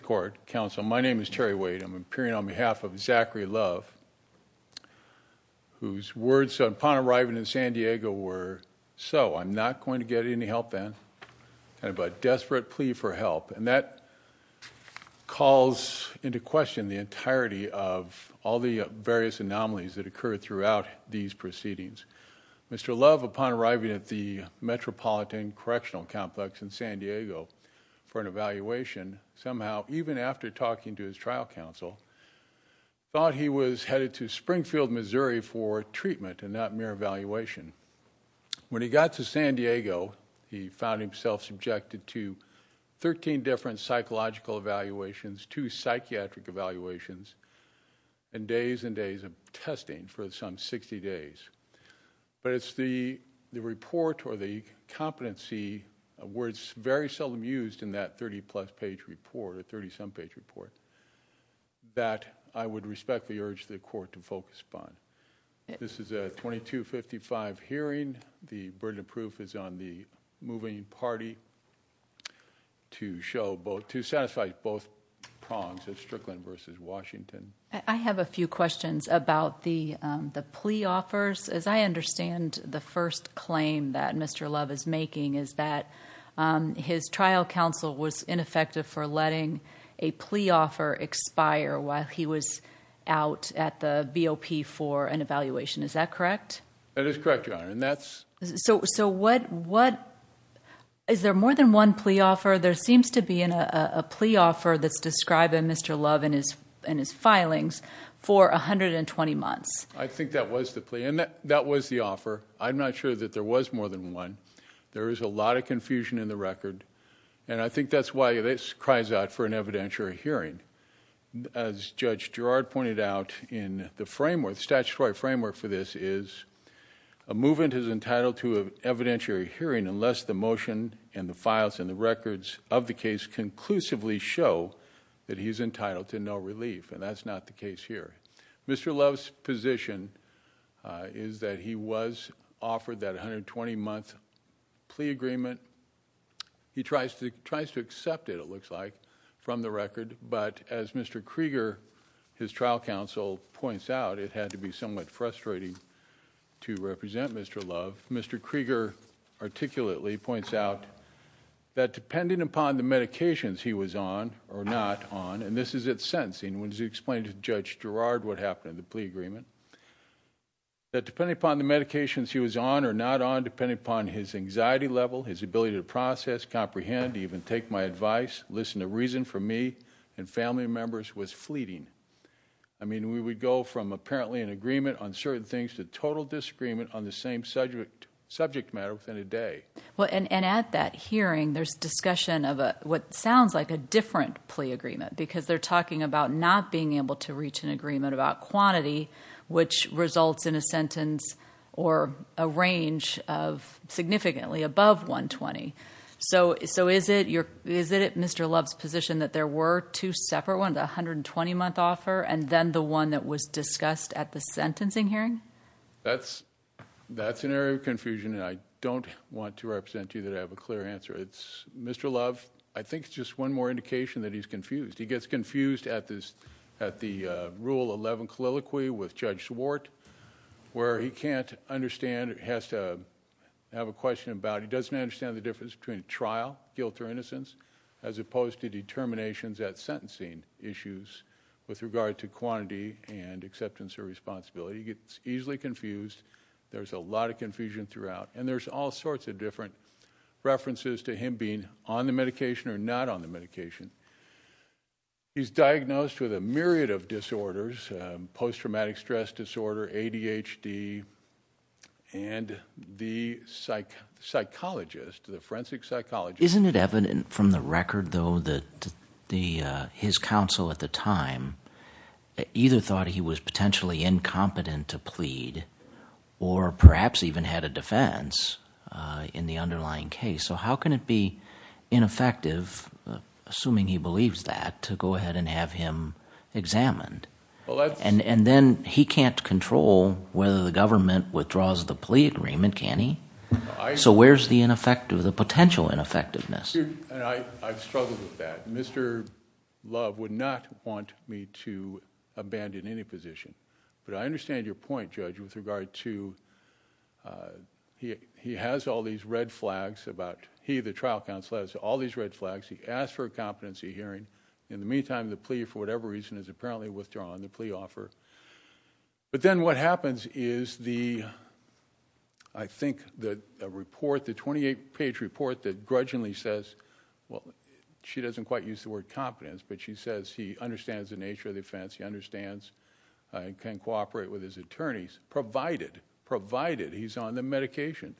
Court Counsel. My name is Terry Wade. I'm appearing on behalf of Zachary Love, whose words upon arriving in San Diego were, so I'm not going to get any help then, but a desperate plea for help. And that calls into question the entirety of all the various anomalies that occurred throughout these proceedings. Mr. Love, upon arriving at the Metropolitan Correctional Complex in San Diego for an even after talking to his trial counsel, thought he was headed to Springfield, Missouri for treatment and not mere evaluation. When he got to San Diego, he found himself subjected to 13 different psychological evaluations, two psychiatric evaluations, and days and days of testing for some 60 days. But it's the report or the competency, words very seldom used in that 30 plus page report, a 30 some page report, that I would respectfully urge the court to focus upon. This is a 2255 hearing. The burden of proof is on the moving party to show both, to satisfy both prongs of Strickland versus Washington. I have a few Mr. Love is making is that his trial counsel was ineffective for letting a plea offer expire while he was out at the BOP for an evaluation. Is that correct? That is correct, Your Honor, and that's... So, so what, what, is there more than one plea offer? There seems to be in a plea offer that's describing Mr. Love and his and his filings for 120 months. I think that was the plea and that was the offer. I'm not sure that there was more than one. There is a lot of confusion in the record, and I think that's why this cries out for an evidentiary hearing. As Judge Gerard pointed out in the framework, the statutory framework for this is a movement is entitled to an evidentiary hearing unless the motion and the files and the records of the case conclusively show that he's entitled to no relief, and that's not the case here. Mr. Love's position is that he was offered that 120-month plea agreement. He tries to, tries to accept it, it looks like, from the record, but as Mr. Krieger, his trial counsel, points out, it had to be somewhat frustrating to represent Mr. Love. Mr. Krieger articulately points out that depending upon the medications he was on or not on, and this is at sentencing, when he explained to Judge Gerard what happened in the plea agreement, that depending upon the medications he was on or not on, depending upon his anxiety level, his ability to process, comprehend, even take my advice, listen to reason for me and family members, was fleeting. I mean, we would go from apparently an agreement on certain things to total disagreement on the same subject matter within a day. Well, and at that hearing, there's discussion of what sounds like a different plea agreement, because they're talking about not being able to reach an agreement about quantity, which results in a sentence or a range of significantly above 120. So, so is it your, is it Mr. Love's position that there were two separate ones, a 120-month offer and then the one that was discussed at the sentencing hearing? That's, that's an area of confusion and I don't want to represent you that I have a clear answer. It's, Mr. Love, I think it's just one more indication that he's confused. He gets confused at this, at the Rule 11 colloquy with Judge Swart, where he can't understand, has to have a question about, he doesn't understand the difference between trial, guilt or innocence, as opposed to determinations at sentencing issues with regard to quantity and acceptance or responsibility. He gets easily confused. There's a lot of confusion throughout and there's all sorts of different references to him being on the medication or not on the medication. He's diagnosed with a myriad of disorders, post-traumatic stress disorder, ADHD and the psych, psychologist, the forensic psychologist. Isn't it evident from the record though that the, his counsel at the time either thought he was potentially incompetent to plead or perhaps even had a defense in the underlying case. So how can it be ineffective, assuming he believes that, to go ahead and have him examined? And, and then he can't control whether the government withdraws the plea agreement, can he? So where's the ineffective, the potential ineffectiveness? I've struggled with that. Mr. Love would not want me to abandon any position, but I understand your point, Judge, with regard to, he, he has all these red flags about, he, the trial counsel, has all these red flags. He asked for a competency hearing. In the meantime, the plea, for whatever reason, is apparently withdrawn, the plea offer. But then what happens is the, I think the report, the 28-page report that grudgingly says, well, she doesn't quite use the word competence, but she says he understands the nature of the offense, he understands and can cooperate with his attorneys, provided, provided he's on the medication.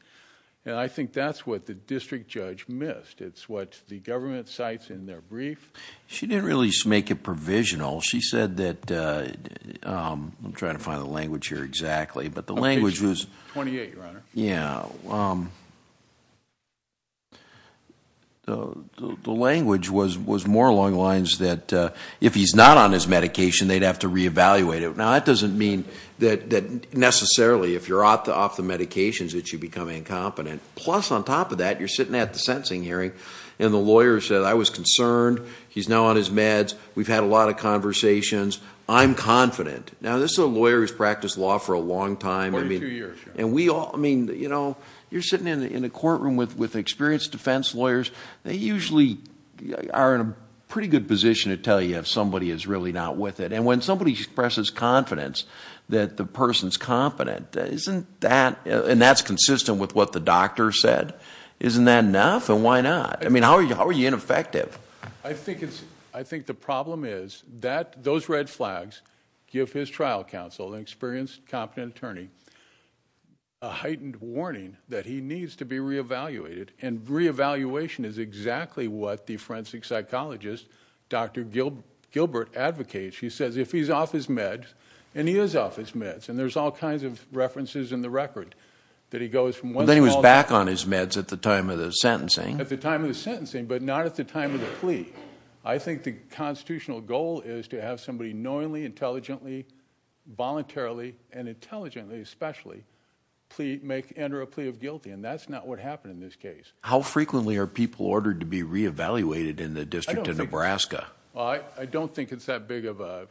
And I think that's what the district judge missed. It's what the government cites in their brief. She didn't really make it provisional. She said that, I'm trying to find the language here exactly, but the language was... Page 28, Your Honor. Yeah. The, the language was, was more along the lines that if he's not on his medication, he should re-evaluate it. Now, that doesn't mean that, that necessarily, if you're off the, off the medications, that you become incompetent. Plus, on top of that, you're sitting at the sentencing hearing, and the lawyer said, I was concerned, he's now on his meds, we've had a lot of conversations, I'm confident. Now, this is a lawyer who's practiced law for a long time. Forty-two years, Your Honor. And we all, I mean, you know, you're sitting in, in a courtroom with, with experienced defense lawyers, they usually are in a pretty good position to tell you if somebody is really not with it. And when somebody expresses confidence, that the person's competent, isn't that, and that's consistent with what the doctor said, isn't that enough, and why not? I mean, how are you, how are you ineffective? I think it's, I think the problem is, that, those red flags give his trial counsel, an experienced, competent attorney, a heightened warning that he needs to be re-evaluated. And re-evaluation is exactly what the forensic psychologist, Dr. Gilbert, advocates. He says, if he's off his meds, and he is off his meds, and there's all kinds of references in the record, that he goes from when he was back on his meds at the time of the sentencing, at the time of the sentencing, but not at the time of the plea. I think the constitutional goal is to have somebody knowingly, intelligently, voluntarily, and intelligently, especially, plea, make, enter a plea of guilty, and that's not what happened in this case. How frequently are people ordered to be re-evaluated in the District of Nebraska? I don't think it's that big of a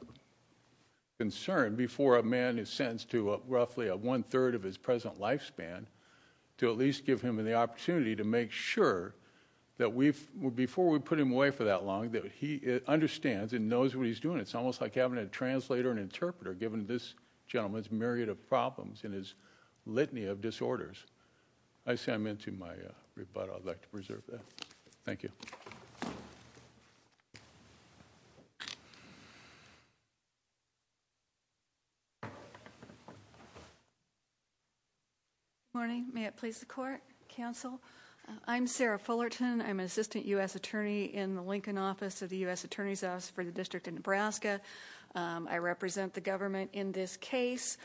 concern, before a man is sentenced to roughly a one-third of his present lifespan, to at least give him the opportunity to make sure, that we've, before we put him away for that long, that he understands and knows what he's doing. It's almost like having a translator and interpreter, given this gentleman's myriad of problems, and his litany of disorders. I say I'm into my rebuttal, I'd like to preserve that. Thank you. Good morning, may it please the court, counsel. I'm Sarah Fullerton, I'm an Assistant U.S. Attorney in the Lincoln Office of the U.S. Attorney's Office for the District of Nebraska. I represent the government in this case.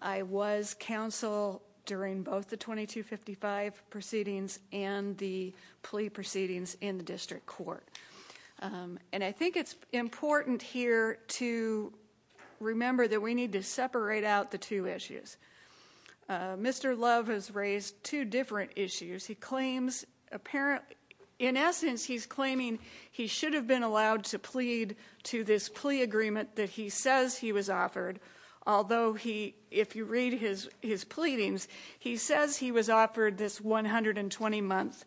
I was counsel during both the 2255 proceedings and the plea proceedings in the district court. And I think it's important here to remember that we need to separate out the two issues. Mr. Love has raised two different issues. He claims, in essence, he's claiming he should have been allowed to plead to this plea agreement that he says he was offered, although he, if you read his his pleadings, he says he was offered this 120 month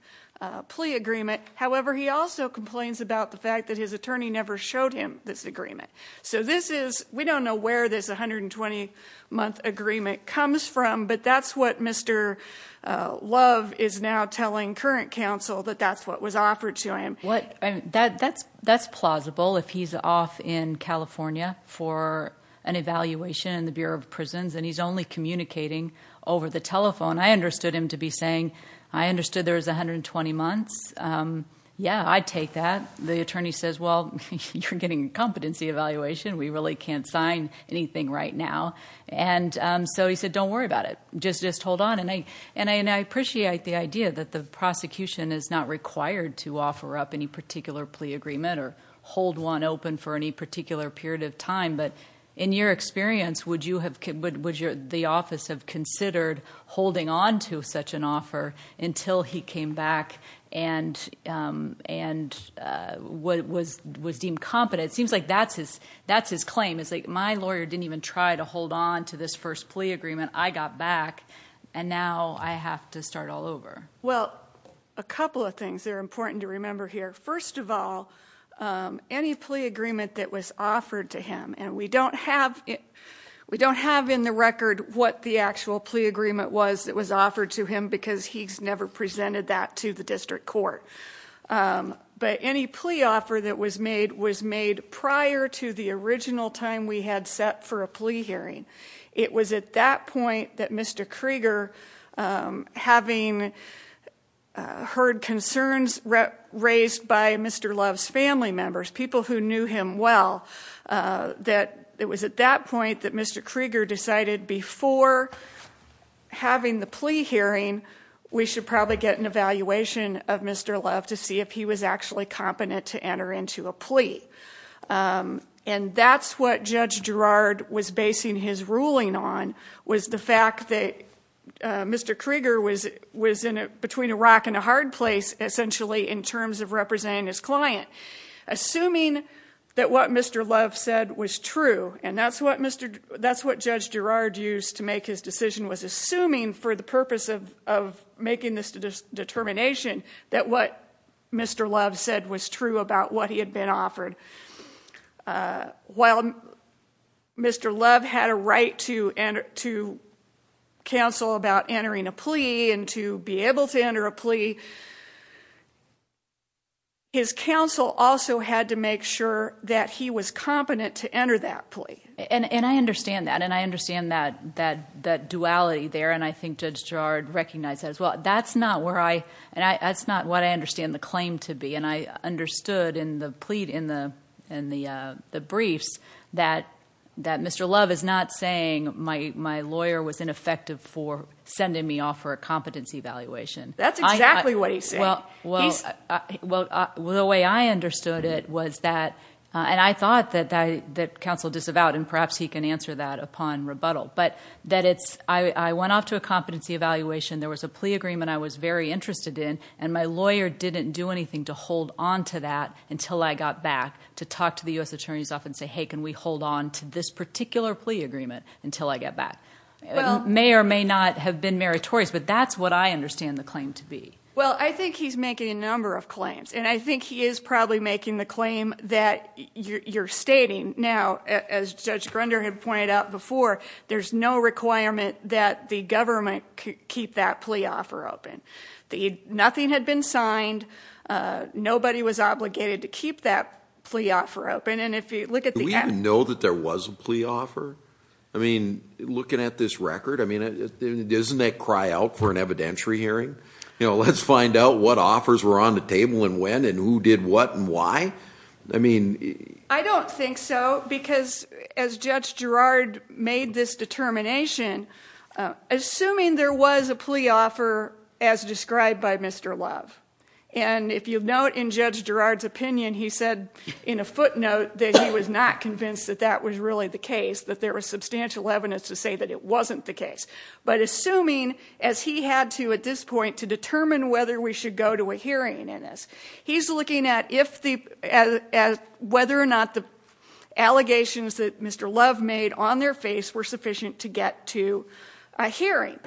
plea agreement. However, he also complains about the fact that his attorney never showed him this agreement. So this is, we don't know where this 120 month agreement comes from, but that's what Mr. Love is now telling current counsel, that that's what was offered to him. That's plausible if he's off in California for an evaluation in the Bureau of Prisons and he's only communicating over the telephone. I understood him to be saying, I understood there was 120 months. Yeah, I'd take that. The attorney says, well, you're getting a competency evaluation, we really can't sign anything right now. And so he said, don't worry about it, just hold on. And I appreciate the idea that the prosecution is not required to have any particular plea agreement or hold one open for any particular period of time, but in your experience, would the office have considered holding on to such an offer until he came back and was deemed competent? It seems like that's his claim. It's like, my lawyer didn't even try to hold on to this first plea agreement. I got back and now I have to start all over. Well, a couple of things that are important to remember here. First of all, any plea agreement that was offered to him, and we don't have in the record what the actual plea agreement was that was offered to him because he's never presented that to the district court. But any plea offer that was made was made prior to the original time we had set for a plea hearing. It was at that point that Mr. Krieger, having heard concerns raised by Mr. Love's family members, people who knew him well, that it was at that point that Mr. Krieger decided before having the plea hearing, we should probably get an evaluation of Mr. Love to see if he was actually competent to enter into a plea. And that's what Judge Gerrard was basing his ruling on, was the fact that Mr. Krieger was between a rock and a hard place, essentially, in terms of representing his client. Assuming that what Mr. Love said was true, and that's what Judge Gerrard used to make his decision, was assuming for the purpose of making this determination that what Mr. Love said was true about what he had been offered. While Mr. Love had a right to counsel about entering a plea and to be able to enter a plea, his counsel also had to make sure that he was competent to enter that plea. And I understand that, and I understand that duality there, and I think Judge Gerrard recognized that as well. That's not where I, and that's not what I understand the claim to be, and I understood in the plea, in the briefs, that Mr. Love is not saying my lawyer was ineffective for sending me off for a competency evaluation. That's exactly what he's saying. Well, the way I understood it was that, and I thought that counsel disavowed, and perhaps he can answer that upon rebuttal, but that it's, I went off to a competency evaluation, there was a plea agreement I was very interested in, and my lawyer didn't do anything to hold on to that until I got back to talk to the U.S. attorneys off and say, hey, can we hold on to this particular plea agreement until I get back? It may or may not have been meritorious, but that's what I understand the claim to be. Well, I think he's making a number of claims, and I think he is probably making the claim that you're stating. Now, as Judge Grunder had pointed out before, there's no requirement that the government keep that plea offer open. Nothing had been signed. Nobody was obligated to keep that plea offer open, and if you look at the... Do we even know that there was a plea offer? I mean, looking at this record, I mean, doesn't that cry out for an evidentiary hearing? You know, let's find out what offers were on the table and when, and who did what and why? I mean... I don't think so, because as Judge Girard made this determination, assuming there was a plea offer as described by Mr. Love, and if you note in Judge Girard's opinion, he said in a footnote that he was not convinced that that was really the case, that there was substantial evidence to say that it wasn't the case. But assuming, as he had to at this point to determine whether we should go to a hearing in this, he's looking at whether or not the allegations that Mr. Love made on their face were sufficient to get to a hearing.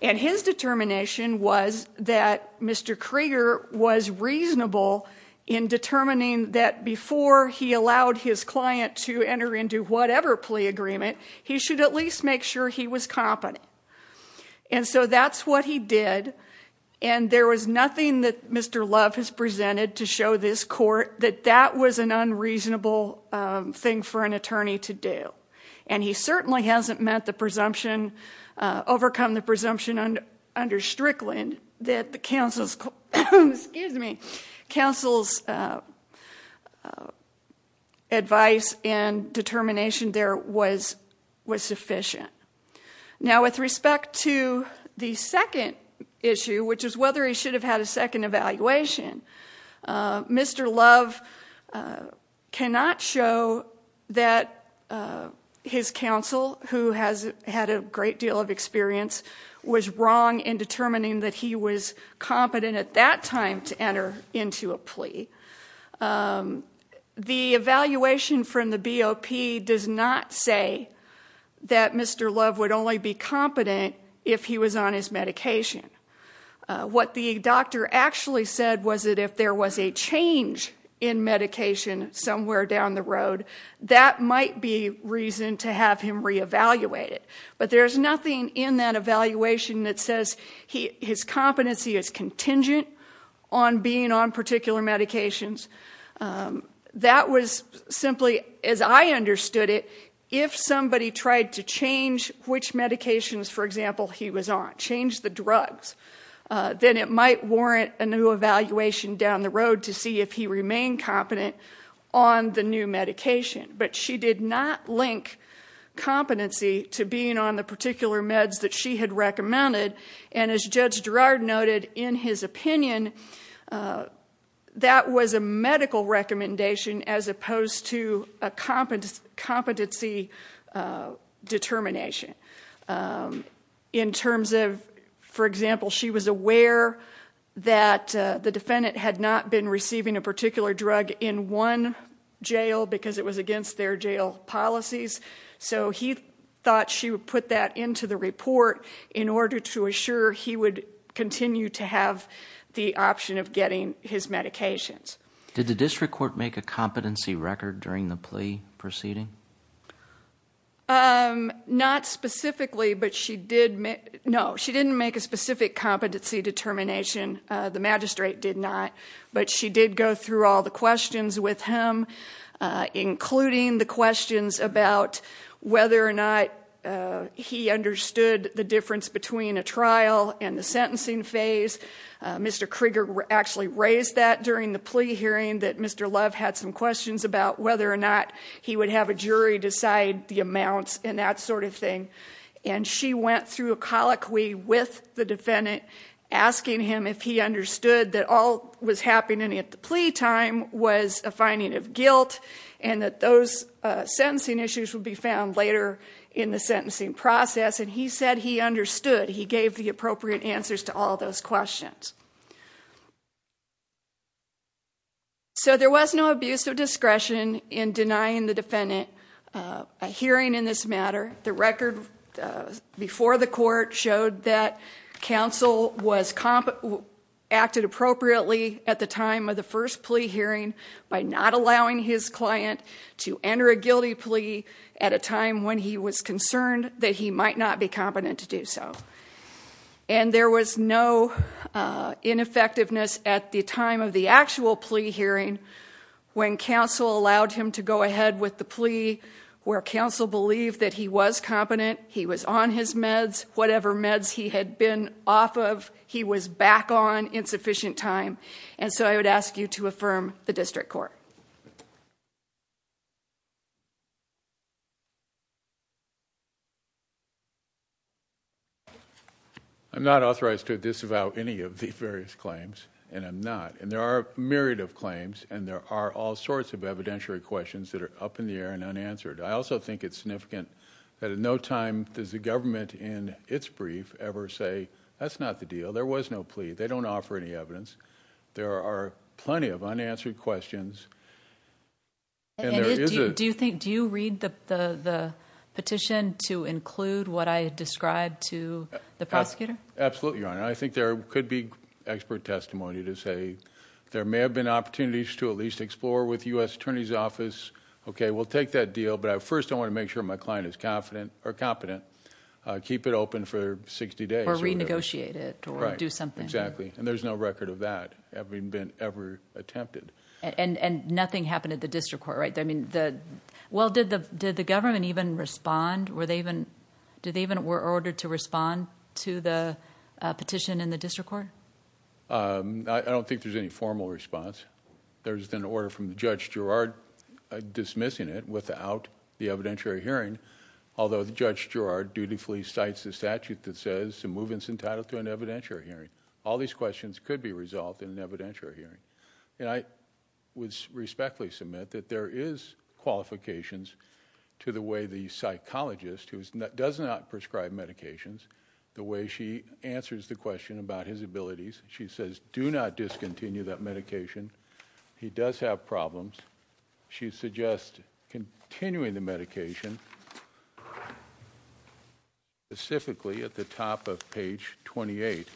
And his determination was that Mr. Krieger was reasonable in determining that before he allowed his client to enter into whatever plea agreement, he should at least make sure he was competent. And so that's what he did, and there was nothing that Mr. Love has presented to show this court that that was an unreasonable thing for an attorney to do. And he certainly hasn't met the presumption, overcome the presumption under Strickland that the counsel's, excuse me, counsel's advice and determination there was sufficient. Now with respect to the second issue, which is whether he should had a great deal of experience, was wrong in determining that he was competent at that time to enter into a plea. The evaluation from the BOP does not say that Mr. Love would only be competent if he was on his medication. What the doctor actually said was that if there was a change in medication somewhere down the road, that might be reason to have him re-evaluated. But there's nothing in that evaluation that says his competency is contingent on being on particular medications. That was simply, as I understood it, if somebody tried to change which medications, for example, he was on, change the drugs, then it might warrant a new evaluation down the road to see if he remained competent on the new medication. But she did not link competency to being on the particular meds that she had recommended. And as Judge Girard noted in his opinion, that was a medical recommendation as opposed to a competency determination. In terms of, for example, she was aware that the defendant had not been receiving a particular drug in one jail because it was against their jail policies. So he thought she would put that into the report in order to assure he would continue to have the option of getting his medications. Did the district court make a competency record during the plea proceeding? Not specifically, but she did make, no, she didn't make a specific competency determination. The magistrate did not. But she did go through all the questions with him, including the questions about whether or not he understood the difference between a trial and the sentencing phase. Mr. Krieger actually raised that during the plea hearing, that Mr. Love had some questions about whether or not he would have a jury decide the amounts and that sort of thing. And she went through a colloquy with the defendant asking him if he understood that all was happening at the plea time was a finding of guilt and that those sentencing issues would be found later in the sentencing process. And he said he understood. He gave the appropriate answers to all those questions. So there was no abuse of discretion in denying the defendant a hearing in this case. The evidence before the court showed that counsel acted appropriately at the time of the first plea hearing by not allowing his client to enter a guilty plea at a time when he was concerned that he might not be competent to do so. And there was no ineffectiveness at the time of the actual plea hearing when counsel allowed him to go ahead with the plea where counsel believed that he was competent, he was on his meds, whatever meds he had been off of, he was back on in sufficient time. And so I would ask you to affirm the district court. I'm not authorized to disavow any of the various claims, and I'm not. And there are a myriad of claims, and there are all sorts of evidentiary questions that are up in the air and unanswered. I also think it's significant that at no time does the government in its brief ever say, that's not the deal. There was no plea. They don't offer any evidence. There are plenty of unanswered questions. And do you think do you read the petition to include what I described to the prosecutor? Absolutely, Your Honor. I think there could be expert testimony to say there may have been opportunities to at least explore with U. S. Attorney's Okay, we'll take that deal. But I first I want to make sure my client is confident or competent. Keep it open for 60 days or renegotiate it or do something. Exactly. And there's no record of that ever been ever attempted. And and nothing happened at the district court, right? I mean, the well, did the did the government even respond? Were they even did they even were ordered to respond to the petition in the district court? Um, I don't think there's any formal response. There's an order from Judge Gerard dismissing it without the evidentiary hearing. Although the Judge Gerard dutifully cites the statute that says to move its entitled to an evidentiary hearing, all these questions could be resolved in an evidentiary hearing. And I would respectfully submit that there is qualifications to the way the psychologist who does not prescribe medications, the way she answers the continue that medication. He does have problems. She suggests continuing the medication specifically at the top of page 28.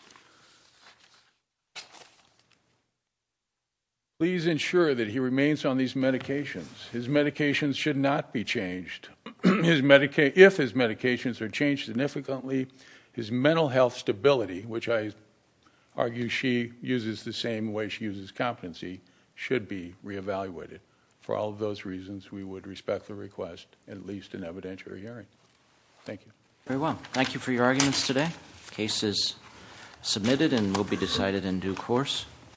Please ensure that he remains on these medications. His medications should not be changed. His Medicaid, if his medications are changed significantly, his mental health stability, which I argue she uses the same way she uses competency, should be reevaluated. For all of those reasons, we would respect the request, at least an evidentiary hearing. Thank you very well. Thank you for your arguments today. Case is submitted and will be decided in due course.